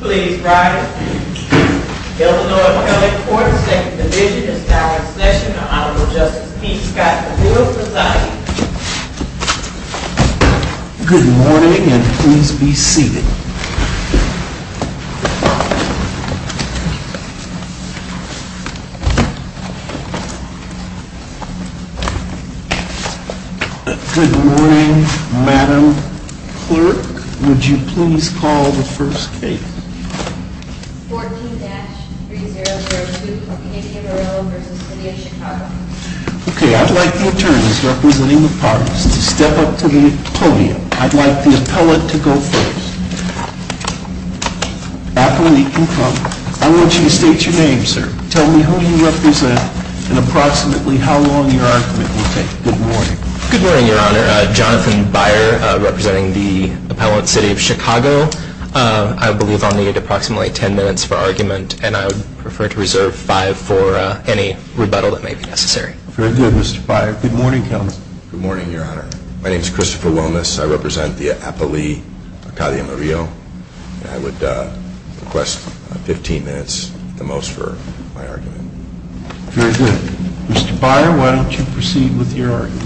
Please rise. Illinois Public Courts Second Division is now in session. The Honorable Justice P. Scott-Mill is presiding. Good morning and please be seated. Good morning, Madam Clerk. Would you please call the first case? 14-3002, Katie Murillo v. City of Chicago I'd like the attorneys representing the parties to step up to the podium. I'd like the appellate to go first. I want you to state your name, sir. Tell me who you represent and approximately how long your argument will take. Good morning. Good morning, Your Honor. Jonathan Beyer, representing the appellate, City of Chicago. I believe I'll need approximately 10 minutes for argument and I would prefer to reserve 5 for any rebuttal that may be necessary. Very good, Mr. Beyer. Good morning, Counsel. Good morning, Your Honor. My name is Christopher Wilmes. I represent the appellee, Katia Murillo. I would request 15 minutes at the most for my argument. Very good. Mr. Beyer, why don't you proceed with your argument?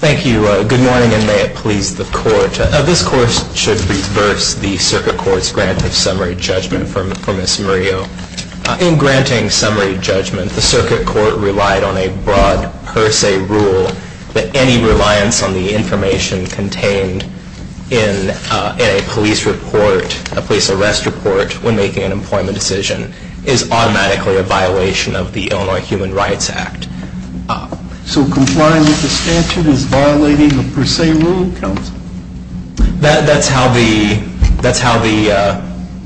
Thank you. Good morning, and may it please the Court. This Court should reverse the Circuit Court's grant of summary judgment for Ms. Murillo. In granting summary judgment, the Circuit Court relied on a broad per se rule that any reliance on the information contained in a police arrest report when making an employment decision is automatically a violation of the Illinois Human Rights Act. So complying with the statute is violating the per se rule, Counsel? That's how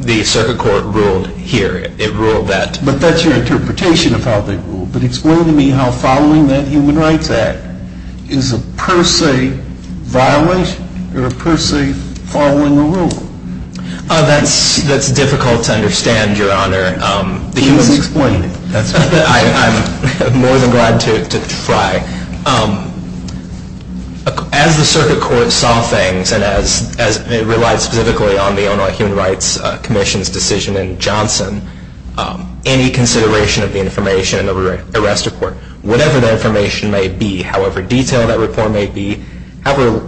the Circuit Court ruled here. It ruled that. But that's your interpretation of how they ruled. But explain to me how following that Human Rights Act is a per se violation or a per se following the rule? That's difficult to understand, Your Honor. I'm more than glad to try. As the Circuit Court saw things, and as it relied specifically on the Illinois Human Rights Commission's decision in Johnson, any consideration of the information in the arrest report, whatever that information may be, however detailed that report may be, however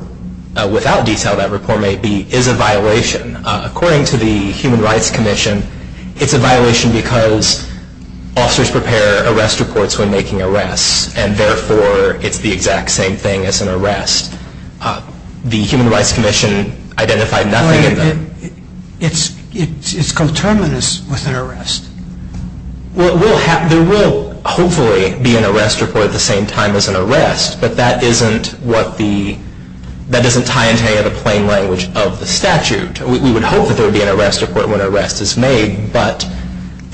without detail that report may be, is a violation. According to the Human Rights Commission, it's a violation because officers prepare arrest reports when making arrests, and therefore it's the exact same thing as an arrest. The Human Rights Commission identified nothing in them. It's coterminous with an arrest. Well, there will hopefully be an arrest report at the same time as an arrest, but that doesn't tie into any of the plain language of the statute. We would hope that there would be an arrest report when an arrest is made, but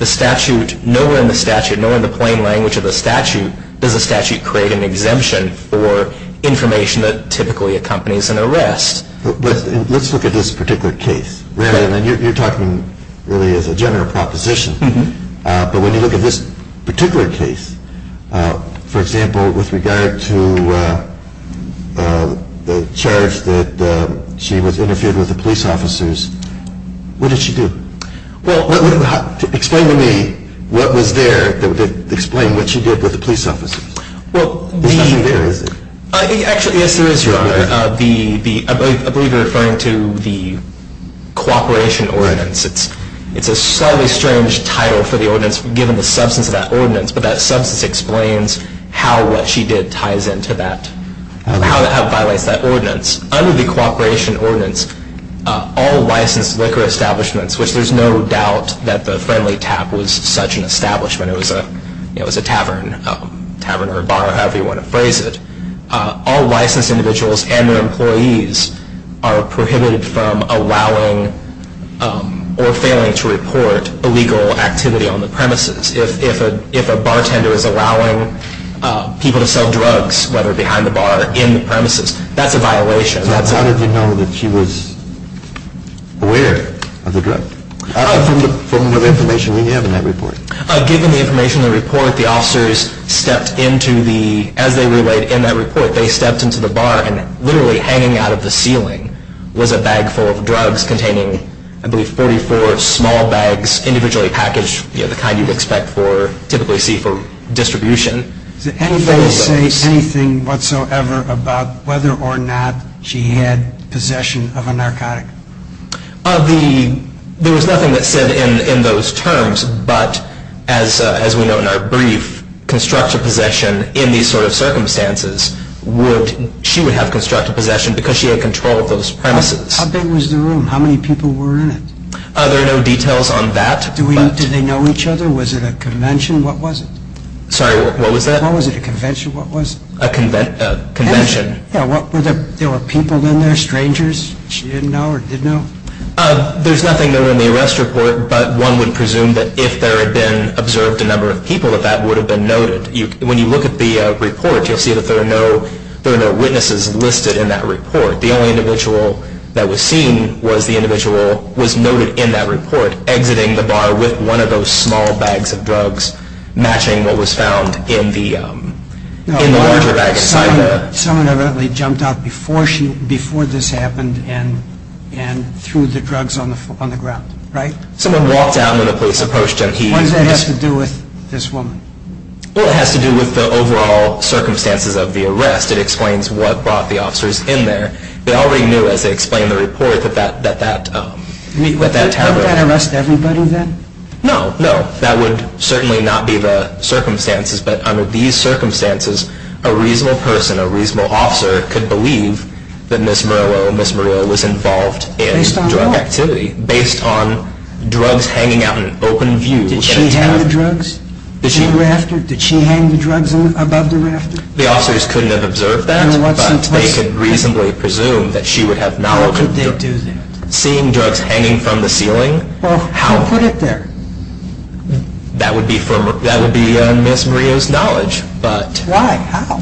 nowhere in the statute, nowhere in the plain language of the statute, does the statute create an exemption for information that typically accompanies an arrest. Let's look at this particular case. You're talking really as a general proposition, but when you look at this particular case, for example, with regard to the charge that she was interfered with the police officers, what did she do? Explain to me what was there that would explain what she did with the police officers. Actually, yes, there is, Your Honor. I believe you're referring to the cooperation ordinance. It's a slightly strange title for the ordinance, given the substance of that ordinance, but that substance explains how what she did ties into that, how it violates that ordinance. Under the cooperation ordinance, all licensed liquor establishments, which there's no doubt that the Friendly Tap was such an establishment. It was a tavern or a bar, however you want to phrase it. All licensed individuals and their employees are prohibited from allowing or failing to report illegal activity on the premises. If a bartender is allowing people to sell drugs, whether behind the bar or in the premises, that's a violation. So how did you know that she was aware of the drug? From the information we have in that report. Given the information in the report, the officers stepped into the, as they relayed in that report, they stepped into the bar and literally hanging out of the ceiling was a bag full of drugs containing, I believe, 44 small bags, individually packaged, the kind you'd expect to typically see for distribution. Did anybody say anything whatsoever about whether or not she had possession of a narcotic? There was nothing that said in those terms, but as we know in our brief, constructive possession in these sort of circumstances, she would have constructive possession because she had control of those premises. How big was the room? How many people were in it? There are no details on that. Did they know each other? Was it a convention? What was it? Sorry, what was that? What was it, a convention? What was it? A convention. Were there people in there, strangers, that she didn't know or didn't know? There's nothing there in the arrest report, but one would presume that if there had been observed a number of people, that that would have been noted. When you look at the report, you'll see that there are no witnesses listed in that report. The only individual that was seen was the individual who was noted in that report, exiting the bar with one of those small bags of drugs, matching what was found in the larger bag. Someone evidently jumped out before this happened and threw the drugs on the ground, right? Someone walked out when the police approached him. What does that have to do with this woman? Well, it has to do with the overall circumstances of the arrest. It explains what brought the officers in there. They already knew, as they explained in the report, that that terrible... Wouldn't that arrest everybody then? No, no. That would certainly not be the circumstances. But under these circumstances, a reasonable person, a reasonable officer, could believe that Ms. Murillo was involved in drug activity. Based on what? Based on drugs hanging out in open view. Did she hang the drugs in the rafter? Did she hang the drugs above the rafter? The officers couldn't have observed that, but they could reasonably presume that she would have not... How could they do that? Seeing drugs hanging from the ceiling? How? Who put it there? That would be Ms. Murillo's knowledge, but... Why? How?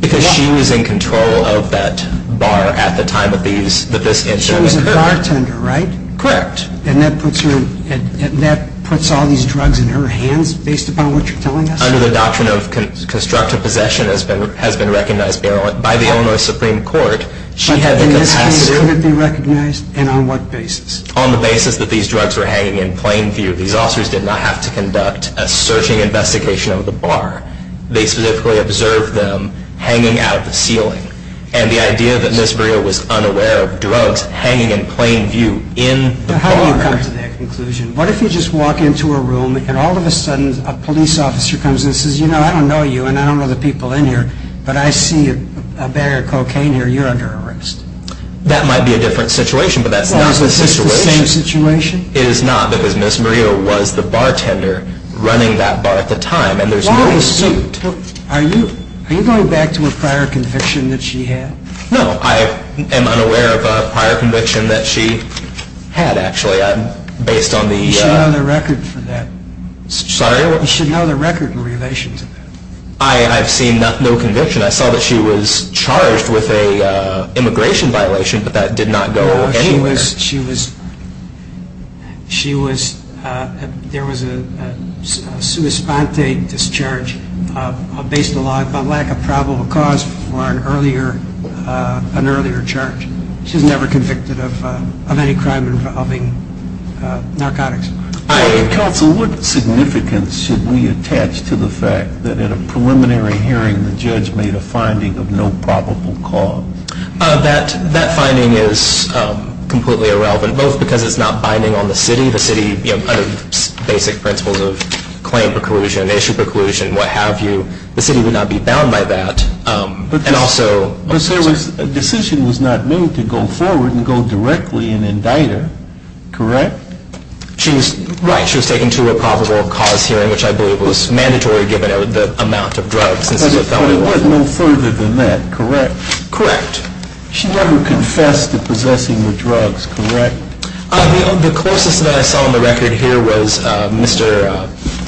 Because she was in control of that bar at the time that this incident occurred. She was a bartender, right? Correct. And that puts all these drugs in her hands based upon what you're telling us? Under the doctrine of constructive possession, as has been recognized by the Illinois Supreme Court, she had the capacity... In this case, could it be recognized? And on what basis? On the basis that these drugs were hanging in plain view. These officers did not have to conduct a searching investigation of the bar. They specifically observed them hanging out of the ceiling. And the idea that Ms. Murillo was unaware of drugs hanging in plain view in the bar... How do you come to that conclusion? What if you just walk into a room and all of a sudden a police officer comes in and says, you know, I don't know you and I don't know the people in here, but I see a bag of cocaine here. You're under arrest. That might be a different situation, but that's not the situation. Is this the same situation? It is not, because Ms. Murillo was the bartender running that bar at the time, and there's no dispute. Are you going back to a prior conviction that she had? No, I am unaware of a prior conviction that she had, actually, based on the... You should know the record for that. Sorry? You should know the record in relation to that. I've seen no conviction. I saw that she was charged with an immigration violation, but that did not go anywhere. No, she was... She was... There was a sua sponte discharge based on lack of probable cause for an earlier charge. She was never convicted of any crime involving narcotics. Counsel, what significance should we attach to the fact that in a preliminary hearing, the judge made a finding of no probable cause? That finding is completely irrelevant, both because it's not binding on the city. The city, under basic principles of claim preclusion, issue preclusion, what have you, the city would not be bound by that, and also... But a decision was not made to go forward and go directly and indict her, correct? She was... Right. She was taken to a probable cause hearing, which I believe was mandatory given the amount of drugs. But it went no further than that, correct? Correct. She never confessed to possessing the drugs, correct? The closest that I saw on the record here was Mr.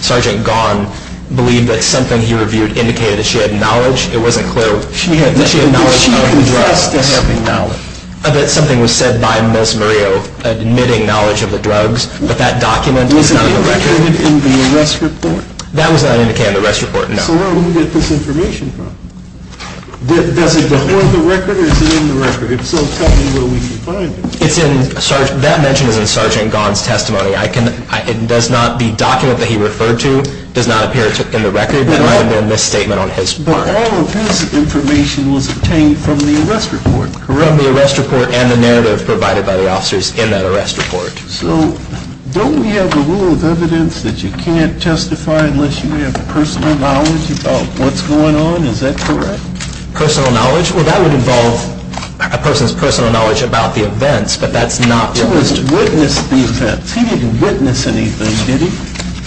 Sergeant Gahn believed that something he reviewed indicated that she had knowledge. It wasn't clear... She had... That she had knowledge of the drugs. Did she confess to having knowledge? That something was said by Ms. Murillo, admitting knowledge of the drugs, but that document is not on the record. Was it indicated in the arrest report? That was not indicated in the arrest report, no. So where did we get this information from? Does it go on the record or is it in the record? If so, tell me where we can find it. It's in... That mention is in Sergeant Gahn's testimony. I can... It does not... The document that he referred to does not appear in the record. That might have been a misstatement on his part. All of his information was obtained from the arrest report. From the arrest report and the narrative provided by the officers in that arrest report. So don't we have a rule of evidence that you can't testify unless you have personal knowledge about what's going on? Is that correct? Personal knowledge? Well, that would involve a person's personal knowledge about the events, but that's not... So he witnessed the events. He didn't witness anything, did he?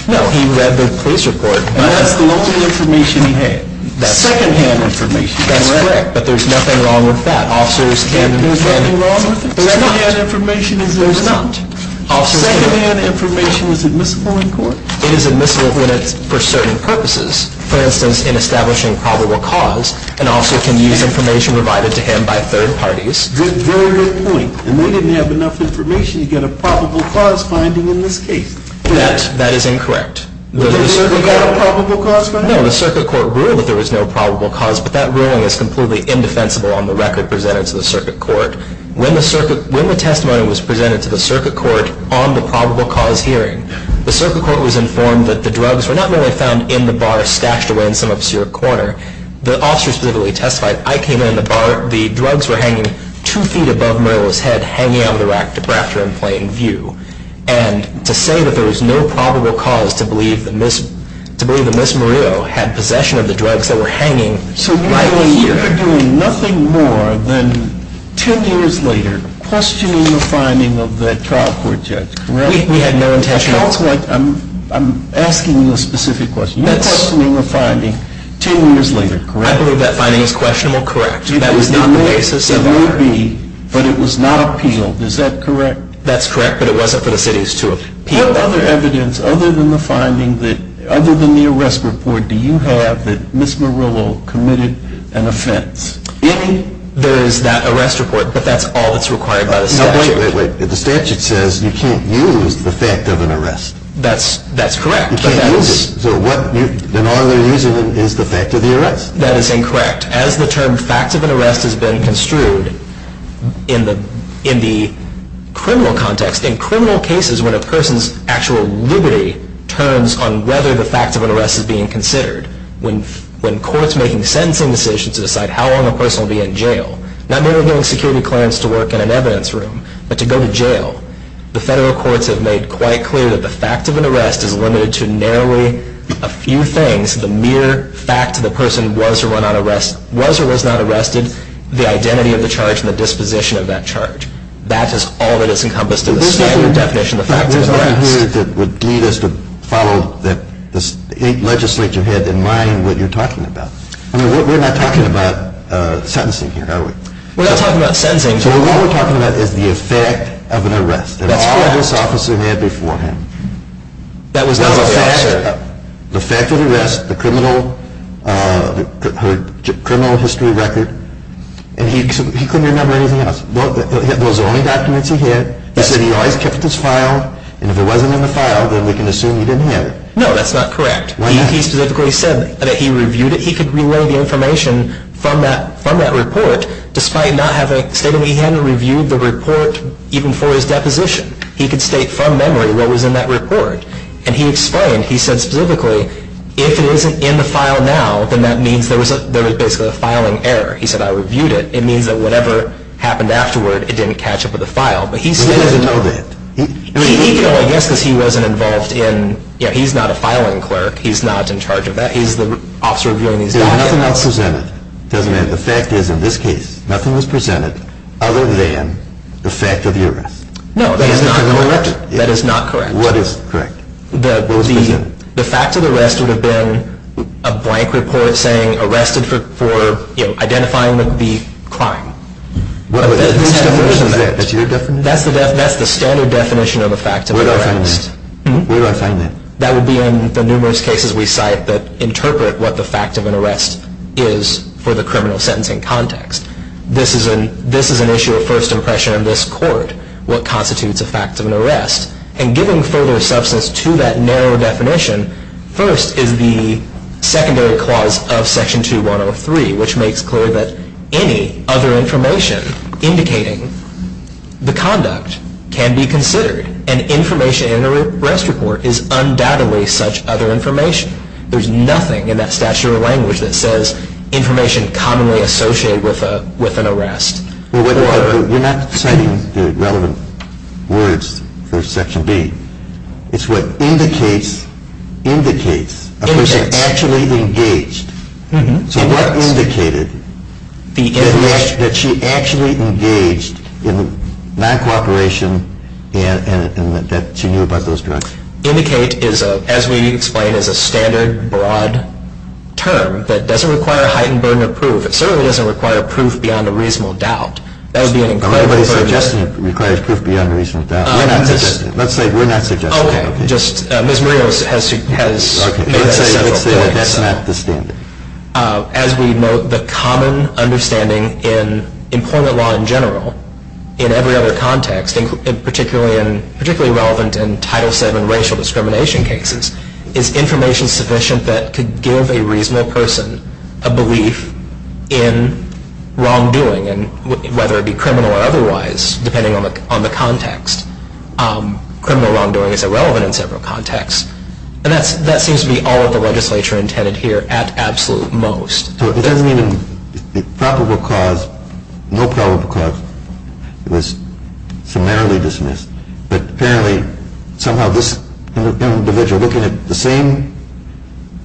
No, he read the police report. That's the only information he had. Secondhand information. That's correct, but there's nothing wrong with that. Officers can... There's nothing wrong with it? There's not. Secondhand information is admissible? There's not. Secondhand information is admissible in court? It is admissible when it's for certain purposes. For instance, in establishing probable cause, an officer can use information provided to him by third parties. Very good point. And they didn't have enough information to get a probable cause finding in this case. That is incorrect. We got a probable cause finding? No, the circuit court ruled that there was no probable cause, but that ruling is completely indefensible on the record presented to the circuit court. When the testimony was presented to the circuit court on the probable cause hearing, the circuit court was informed that the drugs were not only found in the bar stashed away in some obscure corner. The officer specifically testified, I came in the bar, the drugs were hanging two feet above Murillo's head, hanging out of the rack, the drafter in plain view. And to say that there was no probable cause to believe that Ms. Murillo had possession of the drugs that were hanging right here. So you're doing nothing more than ten years later questioning the finding of that trial court judge, correct? We had no intention of... I'm asking you a specific question. You're questioning a finding ten years later, correct? I believe that finding is questionable, correct. That was not the basis of our... It may be, but it was not appealed. Is that correct? That's correct, but it wasn't for the cities to appeal. What other evidence, other than the arrest report, do you have that Ms. Murillo committed an offense? There is that arrest report, but that's all that's required by the statute. Wait, wait, wait. The statute says you can't use the fact of an arrest. That's correct. You can't use it. Then all they're using is the fact of the arrest. That is incorrect. In fact, as the term fact of an arrest has been construed in the criminal context, in criminal cases when a person's actual liberty turns on whether the fact of an arrest is being considered, when courts making sentencing decisions decide how long a person will be in jail, not merely getting security clearance to work in an evidence room, but to go to jail, the federal courts have made quite clear that the fact of an arrest is limited to narrowly a few things, the mere fact that the person was or was not arrested, the identity of the charge, and the disposition of that charge. That is all that is encompassed in the standard definition of the fact of an arrest. But this isn't what we're talking about here that would lead us to follow, that the legislature had in mind what you're talking about. I mean, we're not talking about sentencing here, are we? We're not talking about sentencing. So all we're talking about is the effect of an arrest. That's correct. And all this officer had beforehand. That was not the officer. The fact of the arrest, the criminal history record, and he couldn't remember anything else. Those are the only documents he had. He said he always kept his file, and if it wasn't in the file, then we can assume he didn't have it. No, that's not correct. He specifically said that he reviewed it. He could relay the information from that report, despite not having stated he hadn't reviewed the report even for his deposition. He could state from memory what was in that report. And he explained, he said specifically, if it isn't in the file now, then that means there was basically a filing error. He said, I reviewed it. It means that whatever happened afterward, it didn't catch up with the file. But he stated it. He doesn't know that. He could only guess because he wasn't involved in, you know, he's not a filing clerk. He's not in charge of that. He's the officer reviewing these documents. There's nothing else presented. It doesn't matter. The fact is, in this case, nothing was presented other than the fact of the arrest. No, that is not correct. That is not correct. What is correct? The fact of the arrest would have been a blank report saying, arrested for identifying the crime. That's your definition? That's the standard definition of a fact of an arrest. Where do I find that? That would be in the numerous cases we cite that interpret what the fact of an arrest is for the criminal sentencing context. This is an issue of first impression in this court, what constitutes a fact of an arrest. And giving further substance to that narrow definition, first is the secondary clause of section 2103, which makes clear that any other information indicating the conduct can be considered. And information in an arrest report is undoubtedly such other information. There's nothing in that statute or language that says information commonly associated with an arrest. You're not citing the relevant words for section B. It's what indicates a person actually engaged. So what indicated that she actually engaged in non-cooperation and that she knew about those crimes? Indicate, as we explain, is a standard, broad term that doesn't require a heightened burden of proof. It certainly doesn't require proof beyond a reasonable doubt. That would be an incredible burden. Everybody's suggesting it requires proof beyond a reasonable doubt. We're not suggesting it. Let's say we're not suggesting it. Okay. Ms. Murillo has made a central point. Let's say that that's not the standard. As we note, the common understanding in employment law in general, in every other context, particularly relevant in Title VII racial discrimination cases, is information sufficient that could give a reasonable person a belief in wrongdoing, whether it be criminal or otherwise, depending on the context. Criminal wrongdoing is irrelevant in several contexts. And that seems to be all of the legislature intended here at absolute most. So it doesn't mean probable cause, no probable cause. It was summarily dismissed. But apparently somehow this individual, looking at the same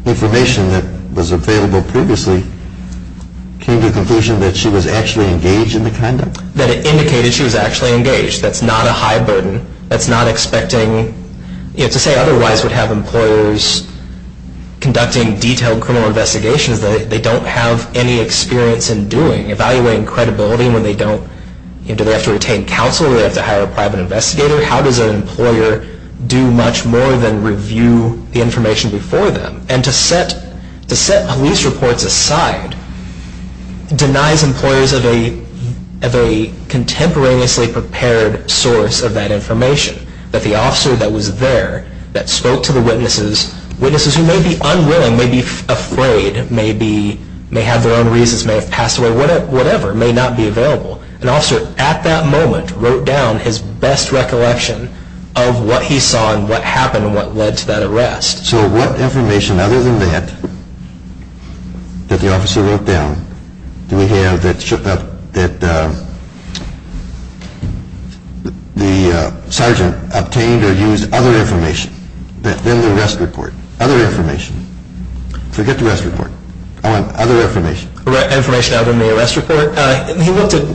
information that was available previously, came to the conclusion that she was actually engaged in the conduct? That it indicated she was actually engaged. That's not a high burden. That's not expecting. To say otherwise would have employers conducting detailed criminal investigations that they don't have any experience in doing, evaluating credibility when they don't. Do they have to retain counsel? Do they have to hire a private investigator? How does an employer do much more than review the information before them? And to set police reports aside denies employers of a contemporaneously prepared source of that information. That the officer that was there, that spoke to the witnesses, witnesses who may be unwilling, may be afraid, may have their own reasons, may have passed away, whatever, may not be available. An officer at that moment wrote down his best recollection of what he saw and what happened and what led to that arrest. So what information other than that, that the officer wrote down, do we have that the sergeant obtained or used other information than the arrest report? Other information. Forget the arrest report. I want other information. Information other than the arrest report? He looked at,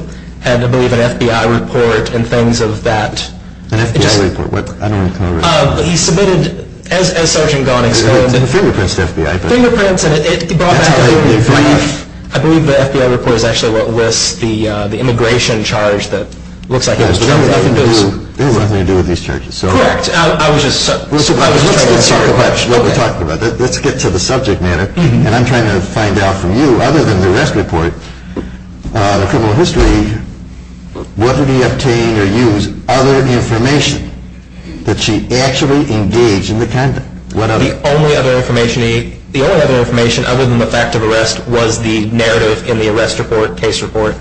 I believe, an FBI report and things of that. An FBI report? I don't want to come over that. He submitted, as Sgt. Gahn explained. Fingerprints to FBI. Fingerprints. I believe the FBI report is actually what lists the immigration charge that looks like it. It has nothing to do with these charges. Correct. Let's get to the subject matter, and I'm trying to find out from you, other than the arrest report, the criminal history, what did he obtain or use other information that she actually engaged in the conduct? The only other information other than the fact of arrest was the narrative in the arrest report, case report,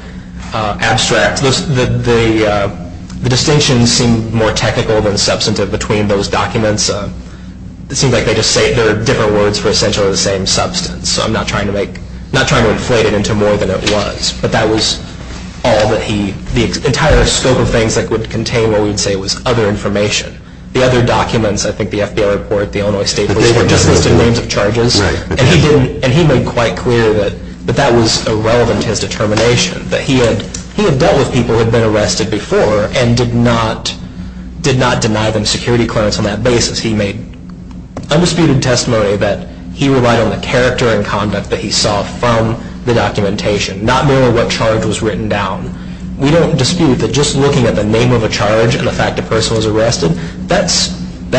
abstract. The distinctions seem more technical than substantive between those documents. It seems like they just say they're different words for essentially the same substance. So I'm not trying to inflate it into more than it was. But that was all that he, the entire scope of things that would contain what we would say was other information. The other documents, I think the FBI report, the Illinois state report, just listed names of charges. And he made quite clear that that was irrelevant to his determination, that he had dealt with people who had been arrested before and did not deny them security clearance on that basis. He made undisputed testimony that he relied on the character and conduct that he saw from the documentation, not knowing what charge was written down. We don't dispute that just looking at the name of a charge and the fact a person was arrested, that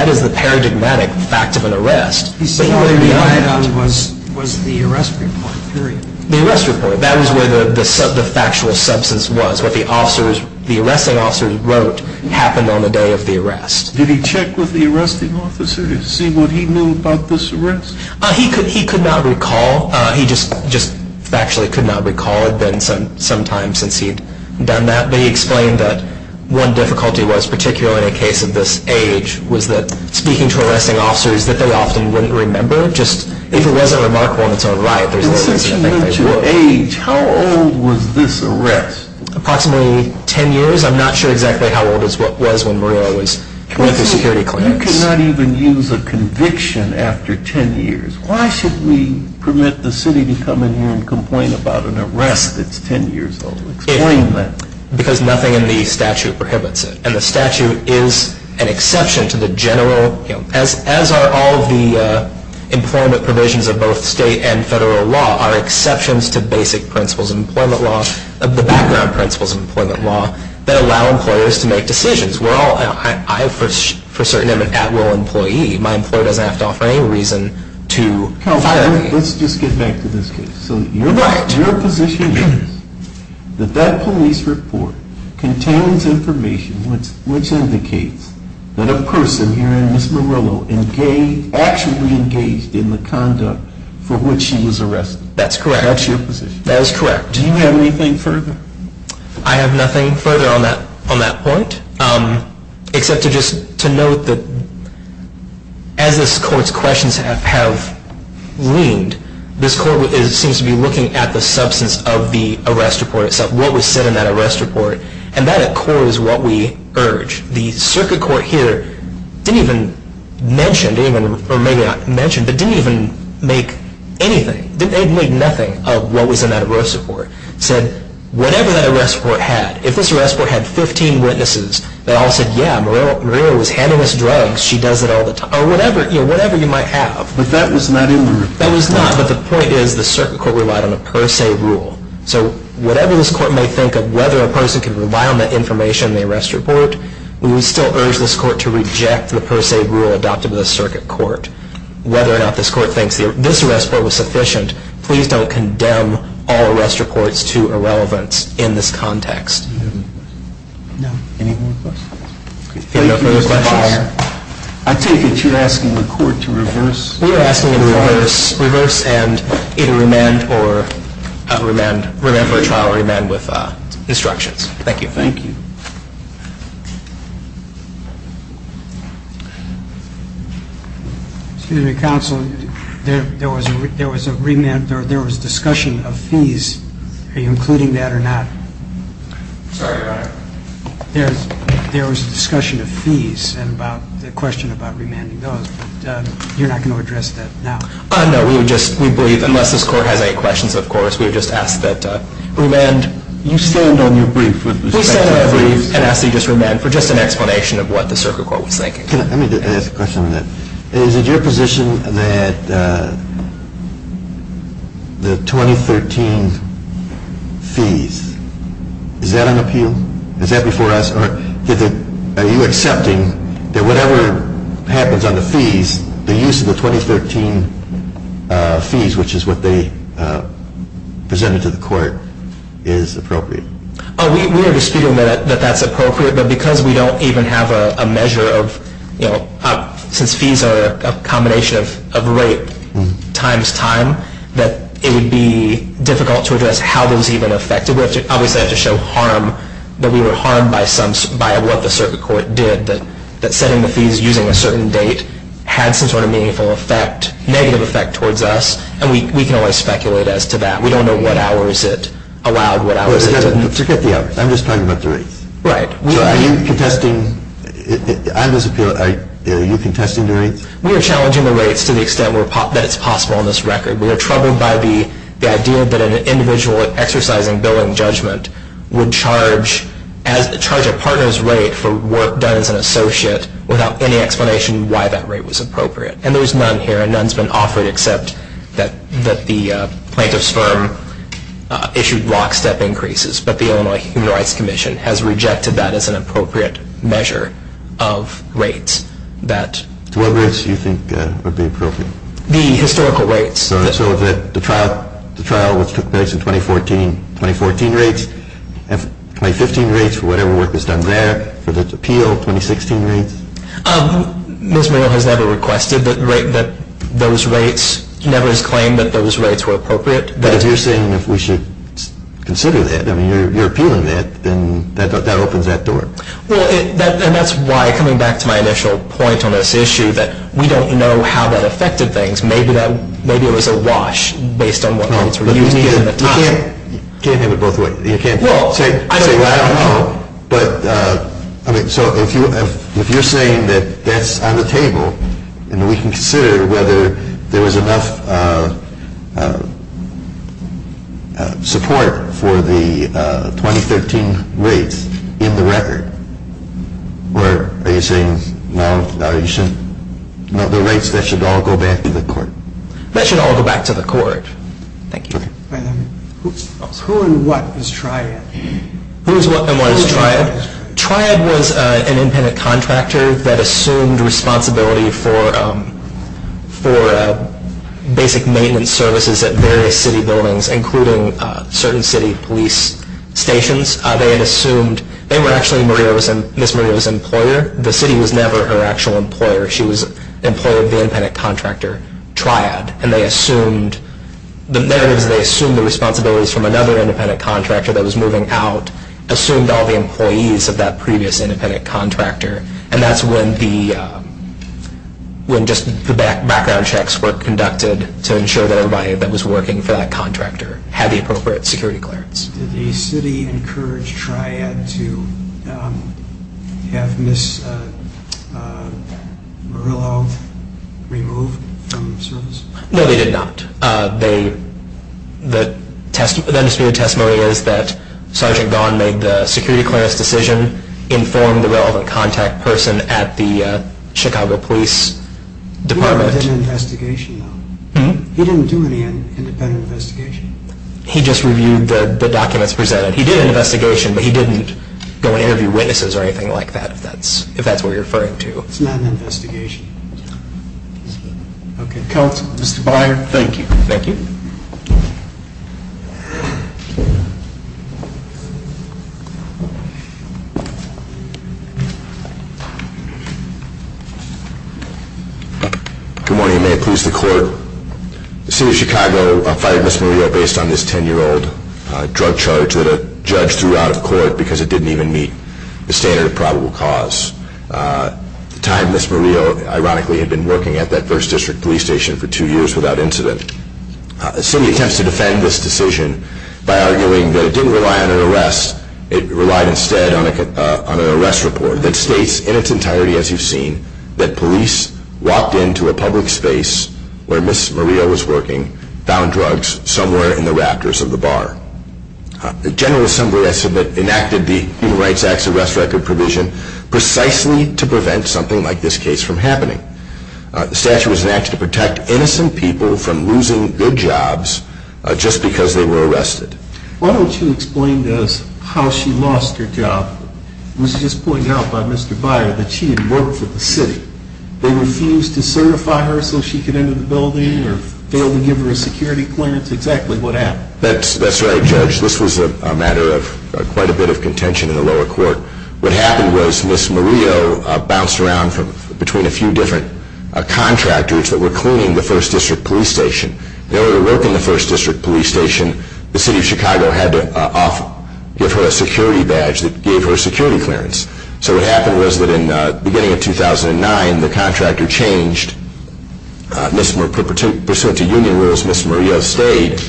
is the paradigmatic fact of an arrest. He said what he relied on was the arrest report, period. The arrest report. That was where the factual substance was, what the arresting officers wrote happened on the day of the arrest. Did he check with the arresting officer to see what he knew about this arrest? He could not recall. He just factually could not recall. It had been some time since he had done that. But he explained that one difficulty was, particularly in a case of this age, was that speaking to arresting officers that they often wouldn't remember, just if it wasn't remarkable in its own right. Since you mentioned age, how old was this arrest? Approximately 10 years. I'm not sure exactly how old was when Murillo was with the security clinics. You cannot even use a conviction after 10 years. Why should we permit the city to come in here and complain about an arrest that's 10 years old? Explain that. Because nothing in the statute prohibits it. And the statute is an exception to the general, as are all of the employment provisions of both state and federal law, are exceptions to basic principles of employment law, the background principles of employment law, that allow employers to make decisions. We're all, I for certain am an at-will employee. My employer doesn't have to offer any reason to fire me. Let's just get back to this case. So your position is that that police report contains information which indicates that a person here in Miss Murillo actually engaged in the conduct for which she was arrested. That's correct. That's your position. That is correct. Do you have anything further? I have nothing further on that point, except to just note that as this court's questions have leaned, this court seems to be looking at the substance of the arrest report itself, what was said in that arrest report. And that at core is what we urge. The circuit court here didn't even mention, or maybe not mention, but didn't even make anything, didn't make nothing of what was in that arrest report. It said whatever that arrest report had, if this arrest report had 15 witnesses that all said, yeah, Murillo was handing us drugs, she does it all the time, or whatever you might have. But that was not in the report. That was not. But the point is the circuit court relied on a per se rule. So whatever this court may think of, whether a person can rely on that information in the arrest report, we would still urge this court to reject the per se rule adopted by the circuit court. Whether or not this court thinks this arrest report was sufficient, please don't condemn all arrest reports to irrelevance in this context. Any more questions? I take it you're asking the court to reverse? Reverse and either remand or remand for a trial or remand with instructions. Thank you. Thank you. Excuse me, counsel. There was a remand, there was discussion of fees. Are you including that or not? Sorry, Your Honor. There was a discussion of fees and about the question about remanding those. You're not going to address that now? No, we believe unless this court has any questions, of course, we would just ask that remand. You stand on your brief. We stand on our brief and ask that you just remand for just an explanation of what the circuit court was thinking. Let me ask a question on that. Is it your position that the 2013 fees, is that on appeal? Is that before us? Are you accepting that whatever happens on the fees, the use of the 2013 fees, which is what they presented to the court, is appropriate? We are disputing that that's appropriate, but because we don't even have a measure of, you know, since fees are a combination of rate times time, that it would be difficult to address how those even affected. So we obviously have to show harm, that we were harmed by what the circuit court did, that setting the fees using a certain date had some sort of meaningful effect, negative effect towards us, and we can always speculate as to that. We don't know what hours it allowed, what hours it didn't. Forget the hours. I'm just talking about the rates. Right. So are you contesting, on this appeal, are you contesting the rates? We are challenging the rates to the extent that it's possible on this record. We are troubled by the idea that an individual exercising billing judgment would charge a partner's rate for work done as an associate without any explanation why that rate was appropriate. And there's none here, and none has been offered, except that the plaintiff's firm issued lockstep increases, but the Illinois Human Rights Commission has rejected that as an appropriate measure of rates. What rates do you think would be appropriate? The historical rates. So the trial which took place in 2014, 2014 rates, 2015 rates for whatever work was done there, for the appeal, 2016 rates? Ms. Muriel has never requested that those rates, never has claimed that those rates were appropriate. But if you're saying that we should consider that, I mean, you're appealing that, then that opens that door. Well, and that's why, coming back to my initial point on this issue, that we don't know how that affected things. Maybe it was a wash based on what rates were used at the time. You can't have it both ways. You can't say, well, I don't know. But, I mean, so if you're saying that that's on the table and we can consider whether there was enough support for the 2013 rates in the record, are you saying, no, the rates, that should all go back to the court? That should all go back to the court. Thank you. Who and what was Triad? Who is what and what is Triad? Triad was an independent contractor that assumed responsibility for basic maintenance services at various city buildings, including certain city police stations. They were actually Ms. Maria's employer. The city was never her actual employer. She was an employer of the independent contractor, Triad. And they assumed the responsibilities from another independent contractor that was moving out, assumed all the employees of that previous independent contractor. And that's when just the background checks were conducted to ensure that everybody that was working for that contractor had the appropriate security clearance. Did the city encourage Triad to have Ms. Murillo removed from service? No, they did not. The undisputed testimony is that Sergeant Gahn made the security clearance decision, informed the relevant contact person at the Chicago Police Department. He never did an investigation, though. He didn't do any independent investigation. He just reviewed the documents presented. He did an investigation, but he didn't go and interview witnesses or anything like that, if that's what you're referring to. It's not an investigation. Counsel, Mr. Byer, thank you. Good morning. May it please the Court. The city of Chicago fired Ms. Murillo based on this 10-year-old drug charge that a judge threw out of court because it didn't even meet the standard of probable cause. At the time, Ms. Murillo, ironically, had been working at that First District police station for two years without incident. The city attempts to defend this decision by arguing that it didn't rely on an arrest. It relied instead on an arrest report that states in its entirety, as you've seen, that police walked into a public space where Ms. Murillo was working, found drugs somewhere in the rafters of the bar. The General Assembly enacted the Human Rights Act's arrest record provision precisely to prevent something like this case from happening. The statute was enacted to protect innocent people from losing their jobs just because they were arrested. Why don't you explain to us how she lost her job? It was just pointed out by Mr. Byer that she had worked for the city. They refused to certify her so she could enter the building or failed to give her a security clearance. Exactly what happened? That's right, Judge. This was a matter of quite a bit of contention in the lower court. What happened was Ms. Murillo bounced around between a few different contractors that were cleaning the First District police station. In order to work in the First District police station, the city of Chicago had to give her a security badge that gave her security clearance. So what happened was that in the beginning of 2009, the contractor changed. Pursuant to union rules, Ms. Murillo stayed,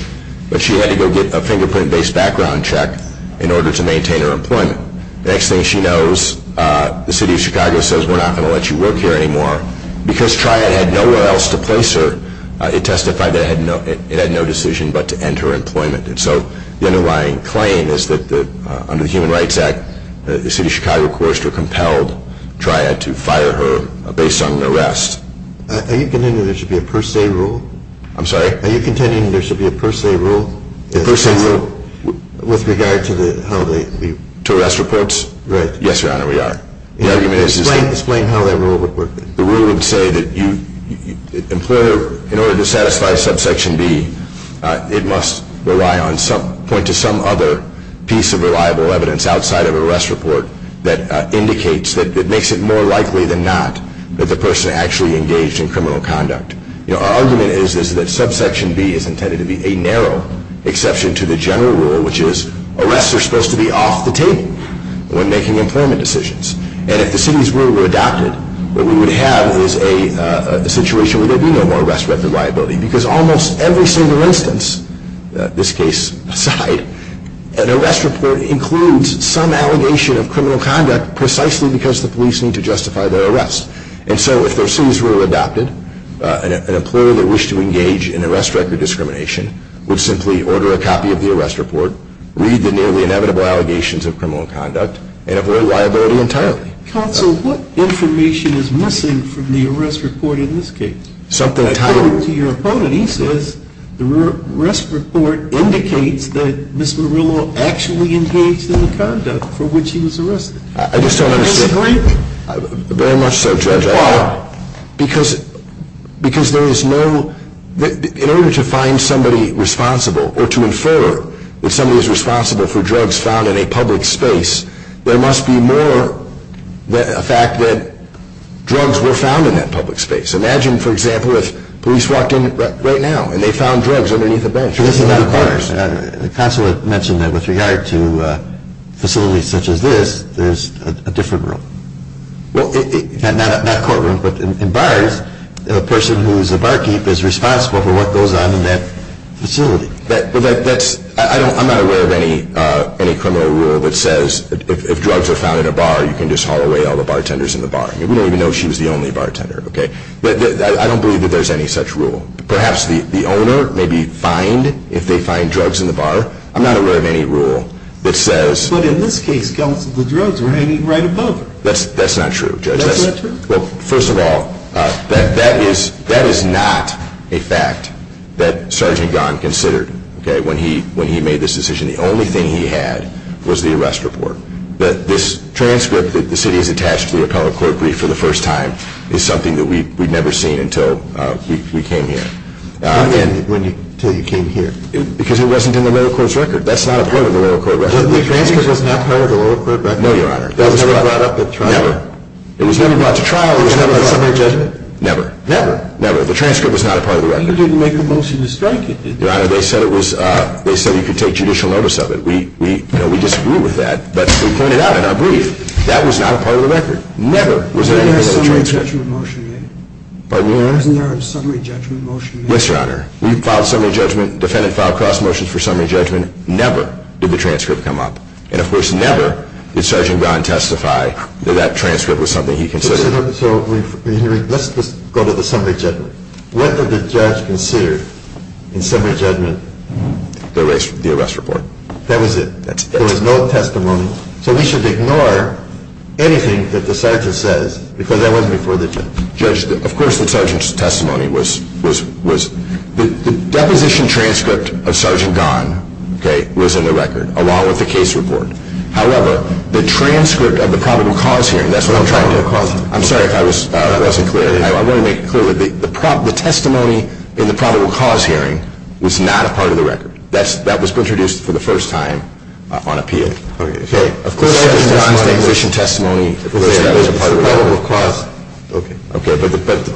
but she had to go get a fingerprint-based background check in order to maintain her employment. The next thing she knows, the city of Chicago says, we're not going to let you work here anymore. Because Triad had nowhere else to place her, it testified that it had no decision but to end her employment. So the underlying claim is that under the Human Rights Act, the city of Chicago forced or compelled Triad to fire her based on an arrest. Are you contending there should be a per se rule? I'm sorry? Are you contending there should be a per se rule? A per se rule? With regard to how they... To arrest reports? Right. Yes, Your Honor, we are. Explain how that rule would work. The rule would say that in order to satisfy subsection B, it must point to some other piece of reliable evidence outside of an arrest report that indicates that it makes it more likely than not that the person actually engaged in criminal conduct. Our argument is that subsection B is intended to be a narrow exception to the general rule, which is arrests are supposed to be off the table when making employment decisions. And if the city's rule were adopted, what we would have is a situation where there would be no more arrest record liability because almost every single instance, this case aside, an arrest report includes some allegation of criminal conduct precisely because the police need to justify their arrest. And so if the city's rule were adopted, an employer that wished to engage in arrest record discrimination would simply order a copy of the arrest report, read the nearly inevitable allegations of criminal conduct, and avoid liability entirely. Counsel, what information is missing from the arrest report in this case? Something titled. According to your opponent, he says the arrest report indicates that Ms. Murillo actually engaged in the conduct for which she was arrested. I just don't understand. Do you disagree? Very much so, Judge. Why? Because there is no, in order to find somebody responsible or to infer that somebody is responsible for drugs found in a public space, there must be more than the fact that drugs were found in that public space. Imagine, for example, if police walked in right now and they found drugs underneath a bench. Counselor mentioned that with regard to facilities such as this, there's a different room. Not a courtroom, but in bars, a person who is a barkeep is responsible for what goes on in that facility. I'm not aware of any criminal rule that says if drugs are found in a bar, you can just haul away all the bartenders in the bar. We don't even know if she was the only bartender. I don't believe that there's any such rule. Perhaps the owner may be fined if they find drugs in the bar. I'm not aware of any rule that says... But in this case, Counsel, the drugs were hanging right above her. That's not true, Judge. Well, first of all, that is not a fact that Sergeant Gahn considered when he made this decision. The only thing he had was the arrest report. This transcript that the city has attached to the Ocala Court Brief for the first time is something that we'd never seen until we came here. Until you came here? Because it wasn't in the lower court's record. That's not a part of the lower court record. The transcript was not part of the lower court record? No, Your Honor. It was never brought up at trial? Never. It was never brought to trial? It was never a summary judgment? Never. Never? Never. The transcript was not a part of the record. You didn't make a motion to strike it, did you? Your Honor, they said you could take judicial notice of it. We disagree with that, but we pointed out in our brief that was not a part of the record. Never was there any part of the transcript. Wasn't there a summary judgment motion made? Pardon me, Your Honor? Wasn't there a summary judgment motion made? Yes, Your Honor. We filed summary judgment. Defendant filed cross motions for summary judgment. Never did the transcript come up. And, of course, never did Sergeant Gahn testify that that transcript was something he considered. So, let's just go to the summary judgment. What did the judge consider in summary judgment? The arrest report. That was it? That's it. There was no testimony. So we should ignore anything that the sergeant says because that wasn't before the judgment? Of course the sergeant's testimony was. The deposition transcript of Sergeant Gahn was in the record along with the case report. However, the transcript of the probable cause hearing, that's what I'm trying to do. I'm sorry if I wasn't clear. I want to make it clear. The testimony in the probable cause hearing was not a part of the record. That was introduced for the first time on appeal. Okay. Of course Sergeant Gahn's deposition testimony was a part of the record. Okay.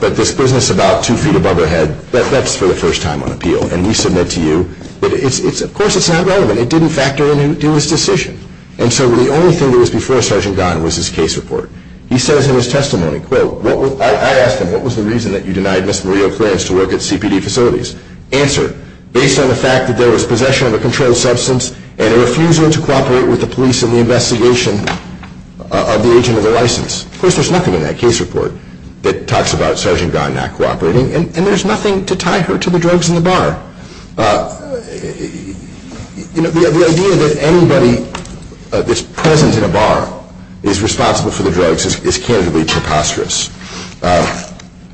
But this business about two feet above her head, that's for the first time on appeal. And we submit to you that, of course, it's not relevant. It didn't factor into his decision. And so the only thing that was before Sergeant Gahn was his case report. He says in his testimony, quote, I asked him, what was the reason that you denied Ms. Maria Clarence to work at CPD facilities? Answer, based on the fact that there was possession of a controlled substance and a refusal to cooperate with the police in the investigation of the agent of the license. Of course, there's nothing in that case report that talks about Sergeant Gahn not cooperating. And there's nothing to tie her to the drugs in the bar. You know, the idea that anybody that's present in a bar is responsible for the drugs is candidly preposterous.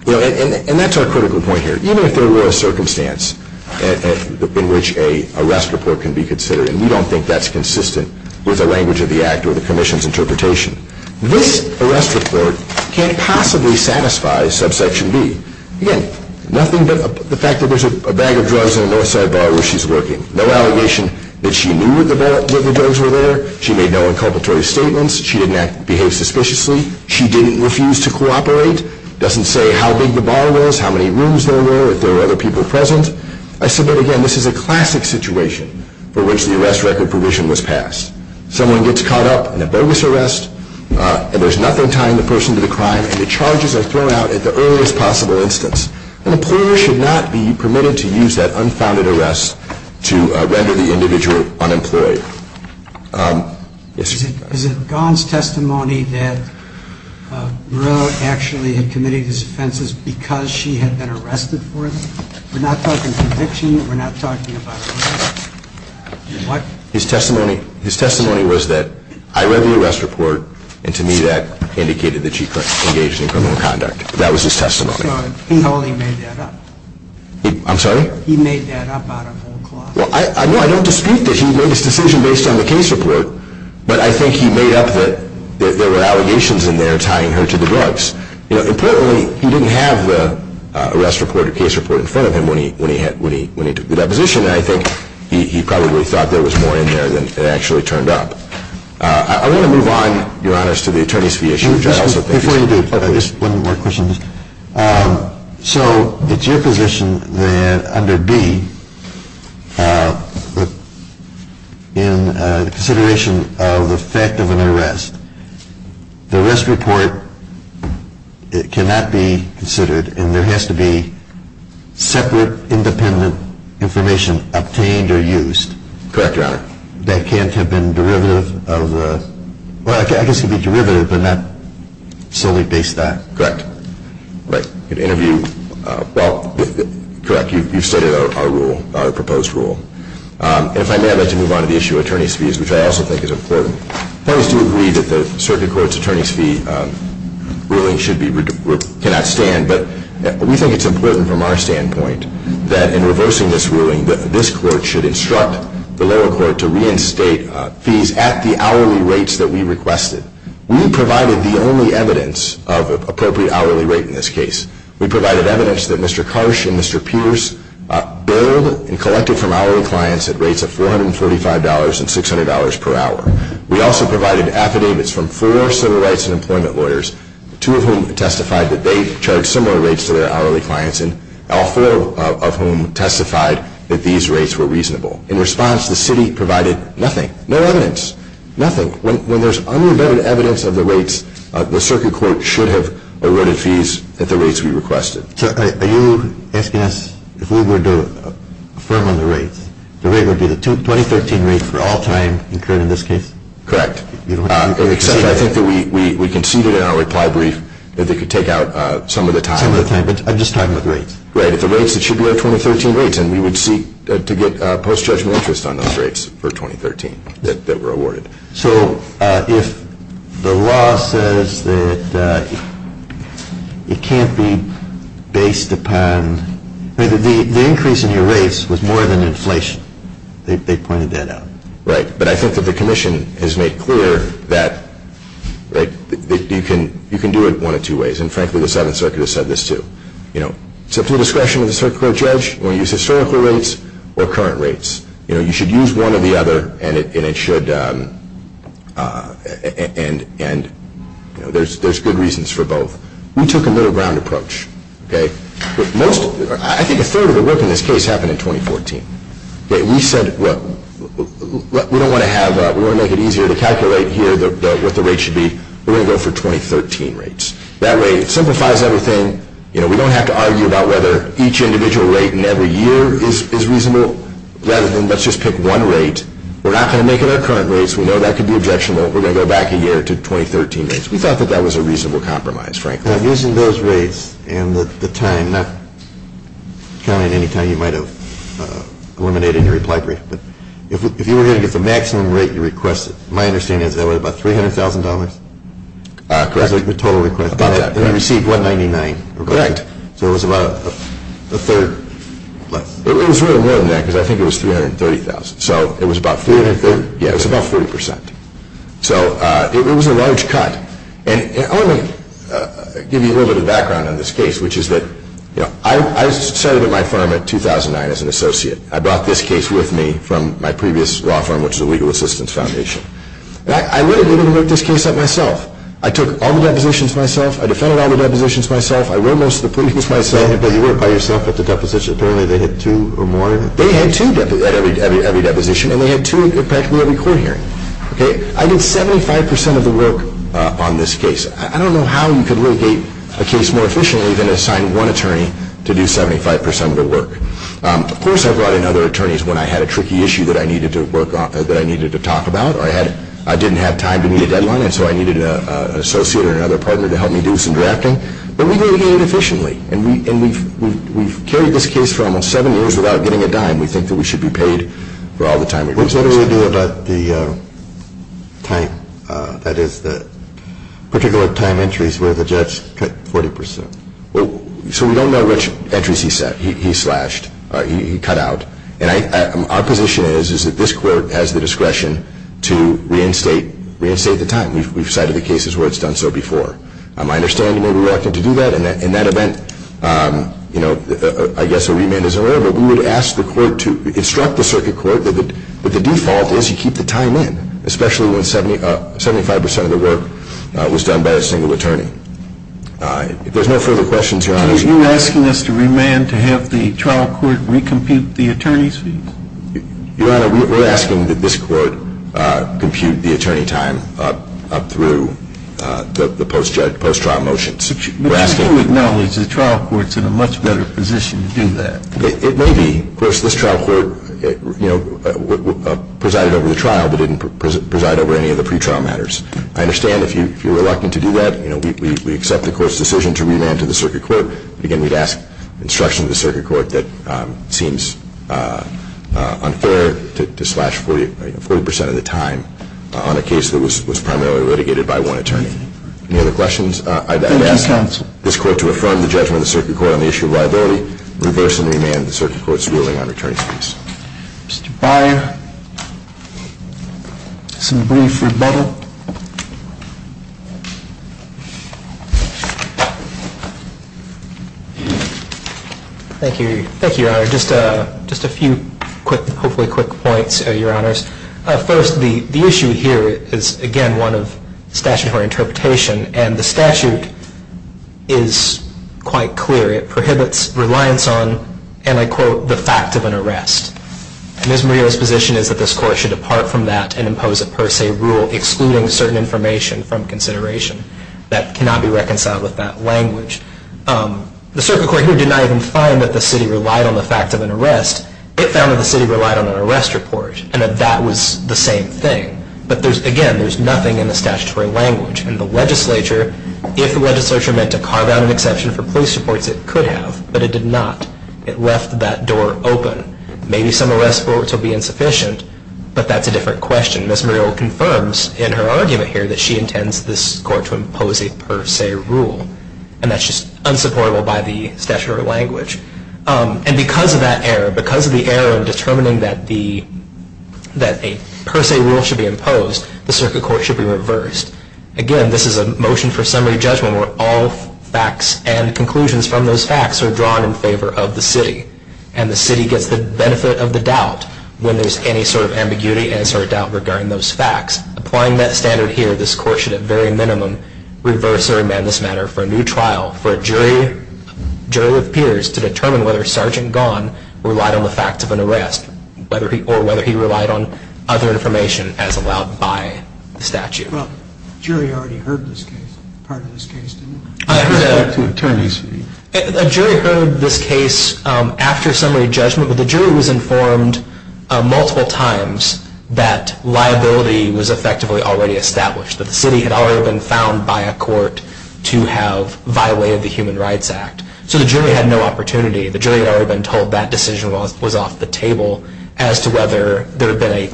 You know, and that's our critical point here. Even if there were a circumstance in which an arrest report can be considered, and we don't think that's consistent with the language of the Act or the Commission's interpretation, this arrest report can't possibly satisfy subsection B. Again, nothing but the fact that there's a bag of drugs in a Northside bar where she's working. No allegation that she knew that the drugs were there. She made no inculpatory statements. She didn't behave suspiciously. She didn't refuse to cooperate. Doesn't say how big the bar was, how many rooms there were, if there were other people present. I submit, again, this is a classic situation for which the arrest record provision was passed. Someone gets caught up in a bogus arrest, and there's nothing tying the person to the crime, and the charges are thrown out at the earliest possible instance. An employer should not be permitted to use that unfounded arrest to render the individual unemployed. Yes, sir. Is it Gon's testimony that Murillo actually had committed these offenses because she had been arrested for them? We're not talking conviction. We're not talking about what? His testimony was that I read the arrest report, and to me that indicated that she engaged in criminal conduct. That was his testimony. So he only made that up? I'm sorry? He made that up out of whole cloth? No, I don't dispute that. He made his decision based on the case report, but I think he made up that there were allegations in there tying her to the drugs. Importantly, he didn't have the arrest report or case report in front of him when he took the deposition, and I think he probably thought there was more in there than it actually turned up. I want to move on, Your Honors, to the attorney's fee issue. Before you do, just one more question. So it's your position that under B, in consideration of the fact of an arrest, the arrest report cannot be considered, and there has to be separate, independent information obtained or used. Correct, Your Honor. That can't have been derivative of, well, I guess it could be derivative, but not solely based on. Correct. Right. In an interview, well, correct, you've stated our rule, our proposed rule. And if I may, I'd like to move on to the issue of attorney's fees, which I also think is important. Parties do agree that the circuit court's attorney's fee ruling cannot stand, but we think it's important from our standpoint that in reversing this ruling, this court should instruct the lower court to reinstate fees at the hourly rates that we requested. We provided the only evidence of an appropriate hourly rate in this case. We provided evidence that Mr. Karsh and Mr. Pierce billed and collected from hourly clients at rates of $445 and $600 per hour. We also provided affidavits from four civil rights and employment lawyers, two of whom testified that they charged similar rates to their hourly clients, and all four of whom testified that these rates were reasonable. In response, the city provided nothing, no evidence, nothing. When there's unrebutted evidence of the rates, the circuit court should have eroded fees at the rates we requested. So are you asking us if we were to affirm on the rates, the rate would be the 2013 rate for all time incurred in this case? Correct. Except I think that we conceded in our reply brief that they could take out some of the time. Some of the time, but I'm just talking about the rates. Right, if the rates, it should be our 2013 rates, and we would seek to get post-judgment interest on those rates for 2013 that were awarded. So if the law says that it can't be based upon, the increase in your rates was more than inflation. They pointed that out. Right, but I think that the commission has made clear that you can do it one of two ways, and frankly the Seventh Circuit has said this too. It's up to the discretion of the circuit court judge when you use historical rates or current rates. You should use one or the other, and there's good reasons for both. We took a middle ground approach. I think a third of the work in this case happened in 2014. We said, look, we don't want to have, we want to make it easier to calculate here what the rates should be. We're going to go for 2013 rates. That way it simplifies everything. We don't have to argue about whether each individual rate in every year is reasonable, rather than let's just pick one rate. We're not going to make it our current rates. We know that could be objectionable. We're going to go back a year to 2013 rates. We thought that that was a reasonable compromise, frankly. Using those rates and the time, not counting any time you might have eliminated in your reply brief, but if you were going to get the maximum rate you requested, my understanding is that was about $300,000? Correct. And you received $199? Correct. So it was about a third less. It was really more than that, because I think it was $330,000. So it was about 40%. So it was a large cut. And let me give you a little bit of background on this case, which is that I started at my firm in 2009 as an associate. I brought this case with me from my previous law firm, which is the Legal Assistance Foundation. I literally didn't look this case up myself. I took all the depositions myself. I defended all the depositions myself. I wrote most of the pleadings myself. But you were by yourself at the deposition. Apparently they had two or more of you. They had two at every deposition, and they had two at practically every court hearing. I did 75% of the work on this case. I don't know how you could locate a case more efficiently than assign one attorney to do 75% of the work. Of course, I brought in other attorneys when I had a tricky issue that I needed to talk about or I didn't have time to meet a deadline, and so I needed an associate or another partner to help me do some drafting. But we did it efficiently. And we've carried this case for almost seven years without getting a dime. We think that we should be paid for all the time we've wasted. What did we do about the time, that is, the particular time entries where the judge cut 40%? So we don't know which entries he cut out. And our position is that this court has the discretion to reinstate the time. We've cited the cases where it's done so before. I understand you may be reluctant to do that. In that event, I guess a remand is in order. But we would ask the court to instruct the circuit court that the default is you keep the time in, especially when 75% of the work was done by a single attorney. If there's no further questions, Your Honor. Are you asking us to remand to have the trial court recompute the attorney's fees? Your Honor, we're asking that this court compute the attorney time up through the post-trial motions. But you do acknowledge the trial court's in a much better position to do that. It may be. Of course, this trial court presided over the trial but didn't preside over any of the pretrial matters. I understand if you're reluctant to do that, we accept the court's decision to remand to the circuit court. Again, we'd ask instruction of the circuit court that it seems unfair to slash 40% of the time on a case that was primarily litigated by one attorney. Any other questions? Thank you, counsel. I'd ask this court to affirm the judgment of the circuit court on the issue of liability, reverse and remand the circuit court's ruling on attorney's fees. Mr. Byer, some brief rebuttal. Thank you, Your Honor. Just a few hopefully quick points, Your Honors. First, the issue here is, again, one of statutory interpretation, and the statute is quite clear. It prohibits reliance on, and I quote, the fact of an arrest. Ms. Murillo's position is that this court should depart from that and impose a per se rule, excluding certain information from consideration that cannot be reconciled with that language. The circuit court here did not even find that the city relied on the fact of an arrest. It found that the city relied on an arrest report and that that was the same thing. But again, there's nothing in the statutory language. In the legislature, if the legislature meant to carve out an exception for police reports, it could have, but it did not. It left that door open. Maybe some arrest reports will be insufficient, but that's a different question. Ms. Murillo confirms in her argument here that she intends this court to impose a per se rule, and that's just unsupportable by the statutory language. And because of that error, because of the error in determining that a per se rule should be imposed, the circuit court should be reversed. Again, this is a motion for summary judgment where all facts and conclusions from those facts are drawn in favor of the city, and the city gets the benefit of the doubt when there's any sort of ambiguity and sort of doubt regarding those facts. Applying that standard here, this court should at very minimum reverse or amend this matter for a new trial for a jury of peers to determine whether Sergeant Gahn relied on the facts of an arrest or whether he relied on other information as allowed by the statute. Well, jury already heard this case. Part of this case didn't. I have to turn this to you. A jury heard this case after summary judgment, but the jury was informed multiple times that liability was effectively already established, that the city had already been found by a court to have violated the Human Rights Act. So the jury had no opportunity. The jury had already been told that decision was off the table as to whether there had been a,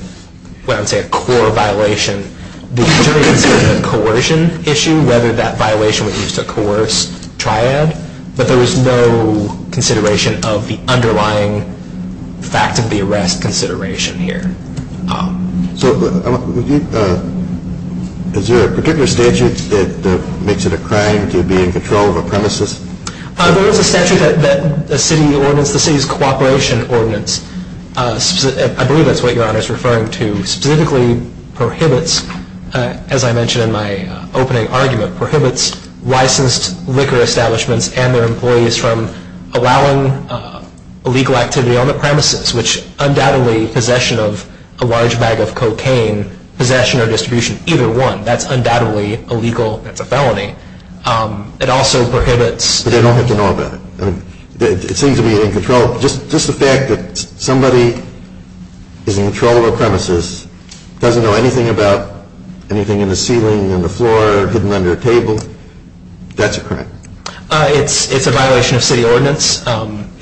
what I would say, a core violation. The jury considered it a coercion issue, whether that violation would be used to coerce triad, but there was no consideration of the underlying fact of the arrest consideration here. So is there a particular statute that makes it a crime to be in control of a premises? There is a statute that the city ordinance, the city's cooperation ordinance, I believe that's what Your Honor is referring to, specifically prohibits, as I mentioned in my opening argument, prohibits licensed liquor establishments and their employees from allowing illegal activity on the premises, which undoubtedly possession of a large bag of cocaine, possession or distribution of either one, that's undoubtedly illegal, that's a felony. It also prohibits- But they don't have to know about it. It seems to be in control. Just the fact that somebody is in control of a premises, doesn't know anything about anything in the ceiling, in the floor, hidden under a table, that's a crime. It's a violation of city ordinance.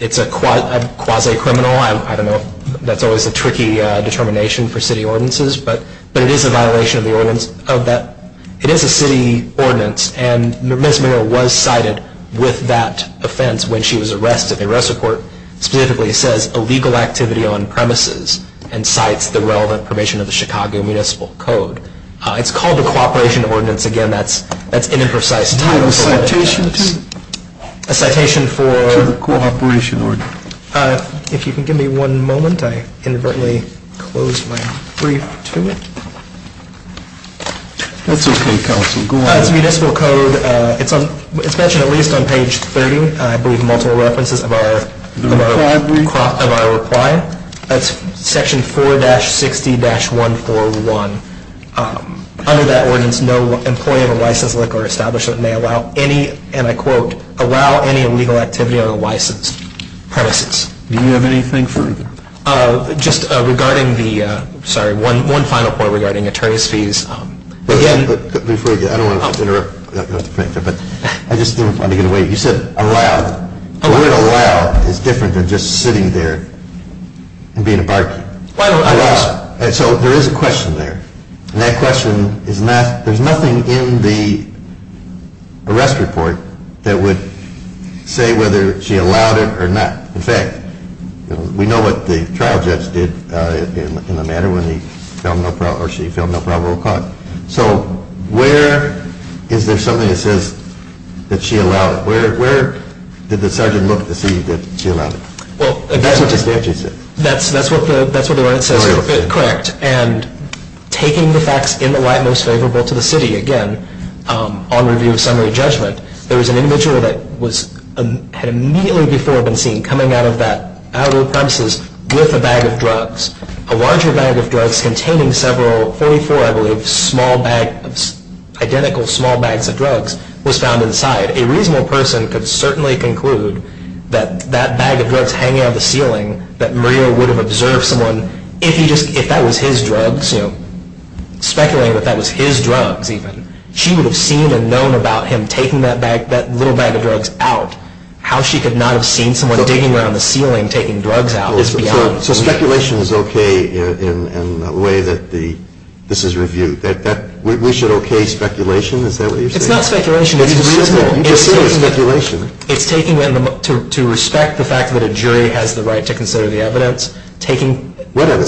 It's a quasi-criminal, I don't know, that's always a tricky determination for city ordinances, but it is a violation of the ordinance. It is a city ordinance, and Ms. Mayer was cited with that offense when she was arrested. The arrest report specifically says, illegal activity on premises, and cites the relevant provision of the Chicago Municipal Code. It's called the cooperation ordinance, again, that's an imprecise title. Do you have a citation to it? A citation for- To the cooperation ordinance. If you can give me one moment, I inadvertently closed my brief to it. That's okay, counsel, go on. It's a municipal code, it's mentioned at least on page 30, I believe, multiple references of our- The reply brief. Of our reply. That's section 4-60-141. Under that ordinance, no employee of a licensed liquor establishment may allow any, and I quote, allow any illegal activity on a licensed premises. Do you have anything further? Just regarding the, sorry, one final point regarding attorney's fees. Again- Before you go, I don't want to interrupt, but I just didn't want to get in the way. You said allow. The word allow is different than just sitting there and being a bargain. So there is a question there. And that question is not, there's nothing in the arrest report that would say whether she allowed it or not. In fact, we know what the trial judge did in the matter when he fell no, or she fell no probable cause. So where is there something that says that she allowed it? Where did the sergeant look to see that she allowed it? That's what the statute says. That's what the ordinance says. Correct. And taking the facts in the light most favorable to the city, again, on review of summary judgment, there was an individual that had immediately before been seen coming out of the premises with a bag of drugs. A larger bag of drugs containing several, 44, I believe, identical small bags of drugs was found inside. A reasonable person could certainly conclude that that bag of drugs hanging on the ceiling, that Maria would have observed someone if that was his drugs, speculating that that was his drugs even. She would have seen and known about him taking that little bag of drugs out. How she could not have seen someone digging around the ceiling taking drugs out is beyond me. So speculation is okay in the way that this is reviewed? We should okay speculation? Is that what you're saying? It's not speculation. You just said it was speculation. It's taking it to respect the fact that a jury has the right to consider the evidence. Whatever.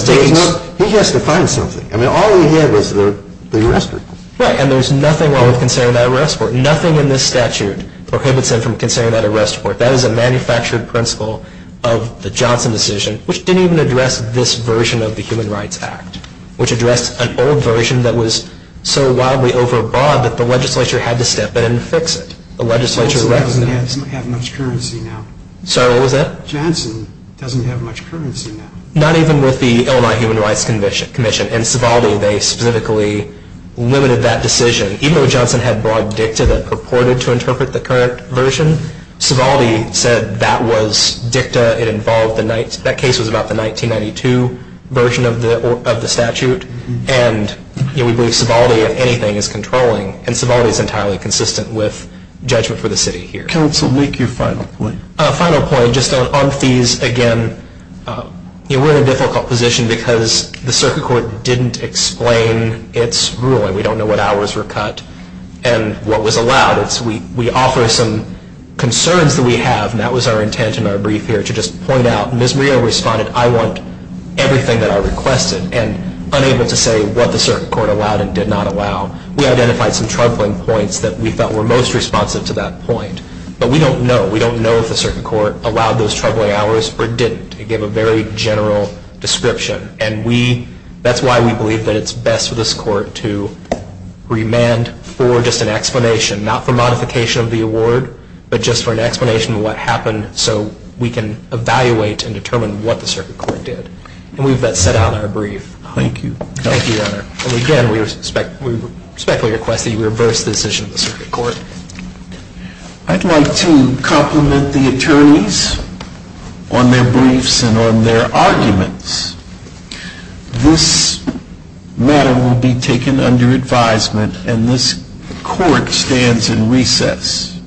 He has to find something. I mean, all he did was the arrest report. Right. And there's nothing wrong with considering that arrest report. Nothing in this statute prohibits him from considering that arrest report. That is a manufactured principle of the Johnson decision, which didn't even address this version of the Human Rights Act, which addressed an old version that was so wildly overbought that the legislature had to step in and fix it. The legislature... Johnson doesn't have much currency now. Sorry, what was that? Johnson doesn't have much currency now. Not even with the Illinois Human Rights Commission. In Sovaldi, they specifically limited that decision. Even though Johnson had brought dicta that purported to interpret the current version, Sovaldi said that was dicta. That case was about the 1992 version of the statute, and we believe Sovaldi, if anything, is controlling, and Sovaldi is entirely consistent with judgment for the city here. Counsel, make your final point. Final point, just on fees again. We're in a difficult position because the circuit court didn't explain its ruling. We don't know what hours were cut and what was allowed. We offer some concerns that we have, and that was our intent in our brief here, to just point out, and as Maria responded, I want everything that I requested, and unable to say what the circuit court allowed and did not allow. We identified some troubling points that we felt were most responsive to that point, but we don't know. We don't know if the circuit court allowed those troubling hours or didn't. It gave a very general description, and that's why we believe that it's best for this court to remand for just an explanation, not for modification of the award, but just for an explanation of what happened so we can evaluate and determine what the circuit court did. And we've got that set out in our brief. Thank you. Thank you, Your Honor. And again, we respectfully request that you reverse the decision of the circuit court. I'd like to compliment the attorneys on their briefs and on their arguments. This matter will be taken under advisement, and this court stands in recess.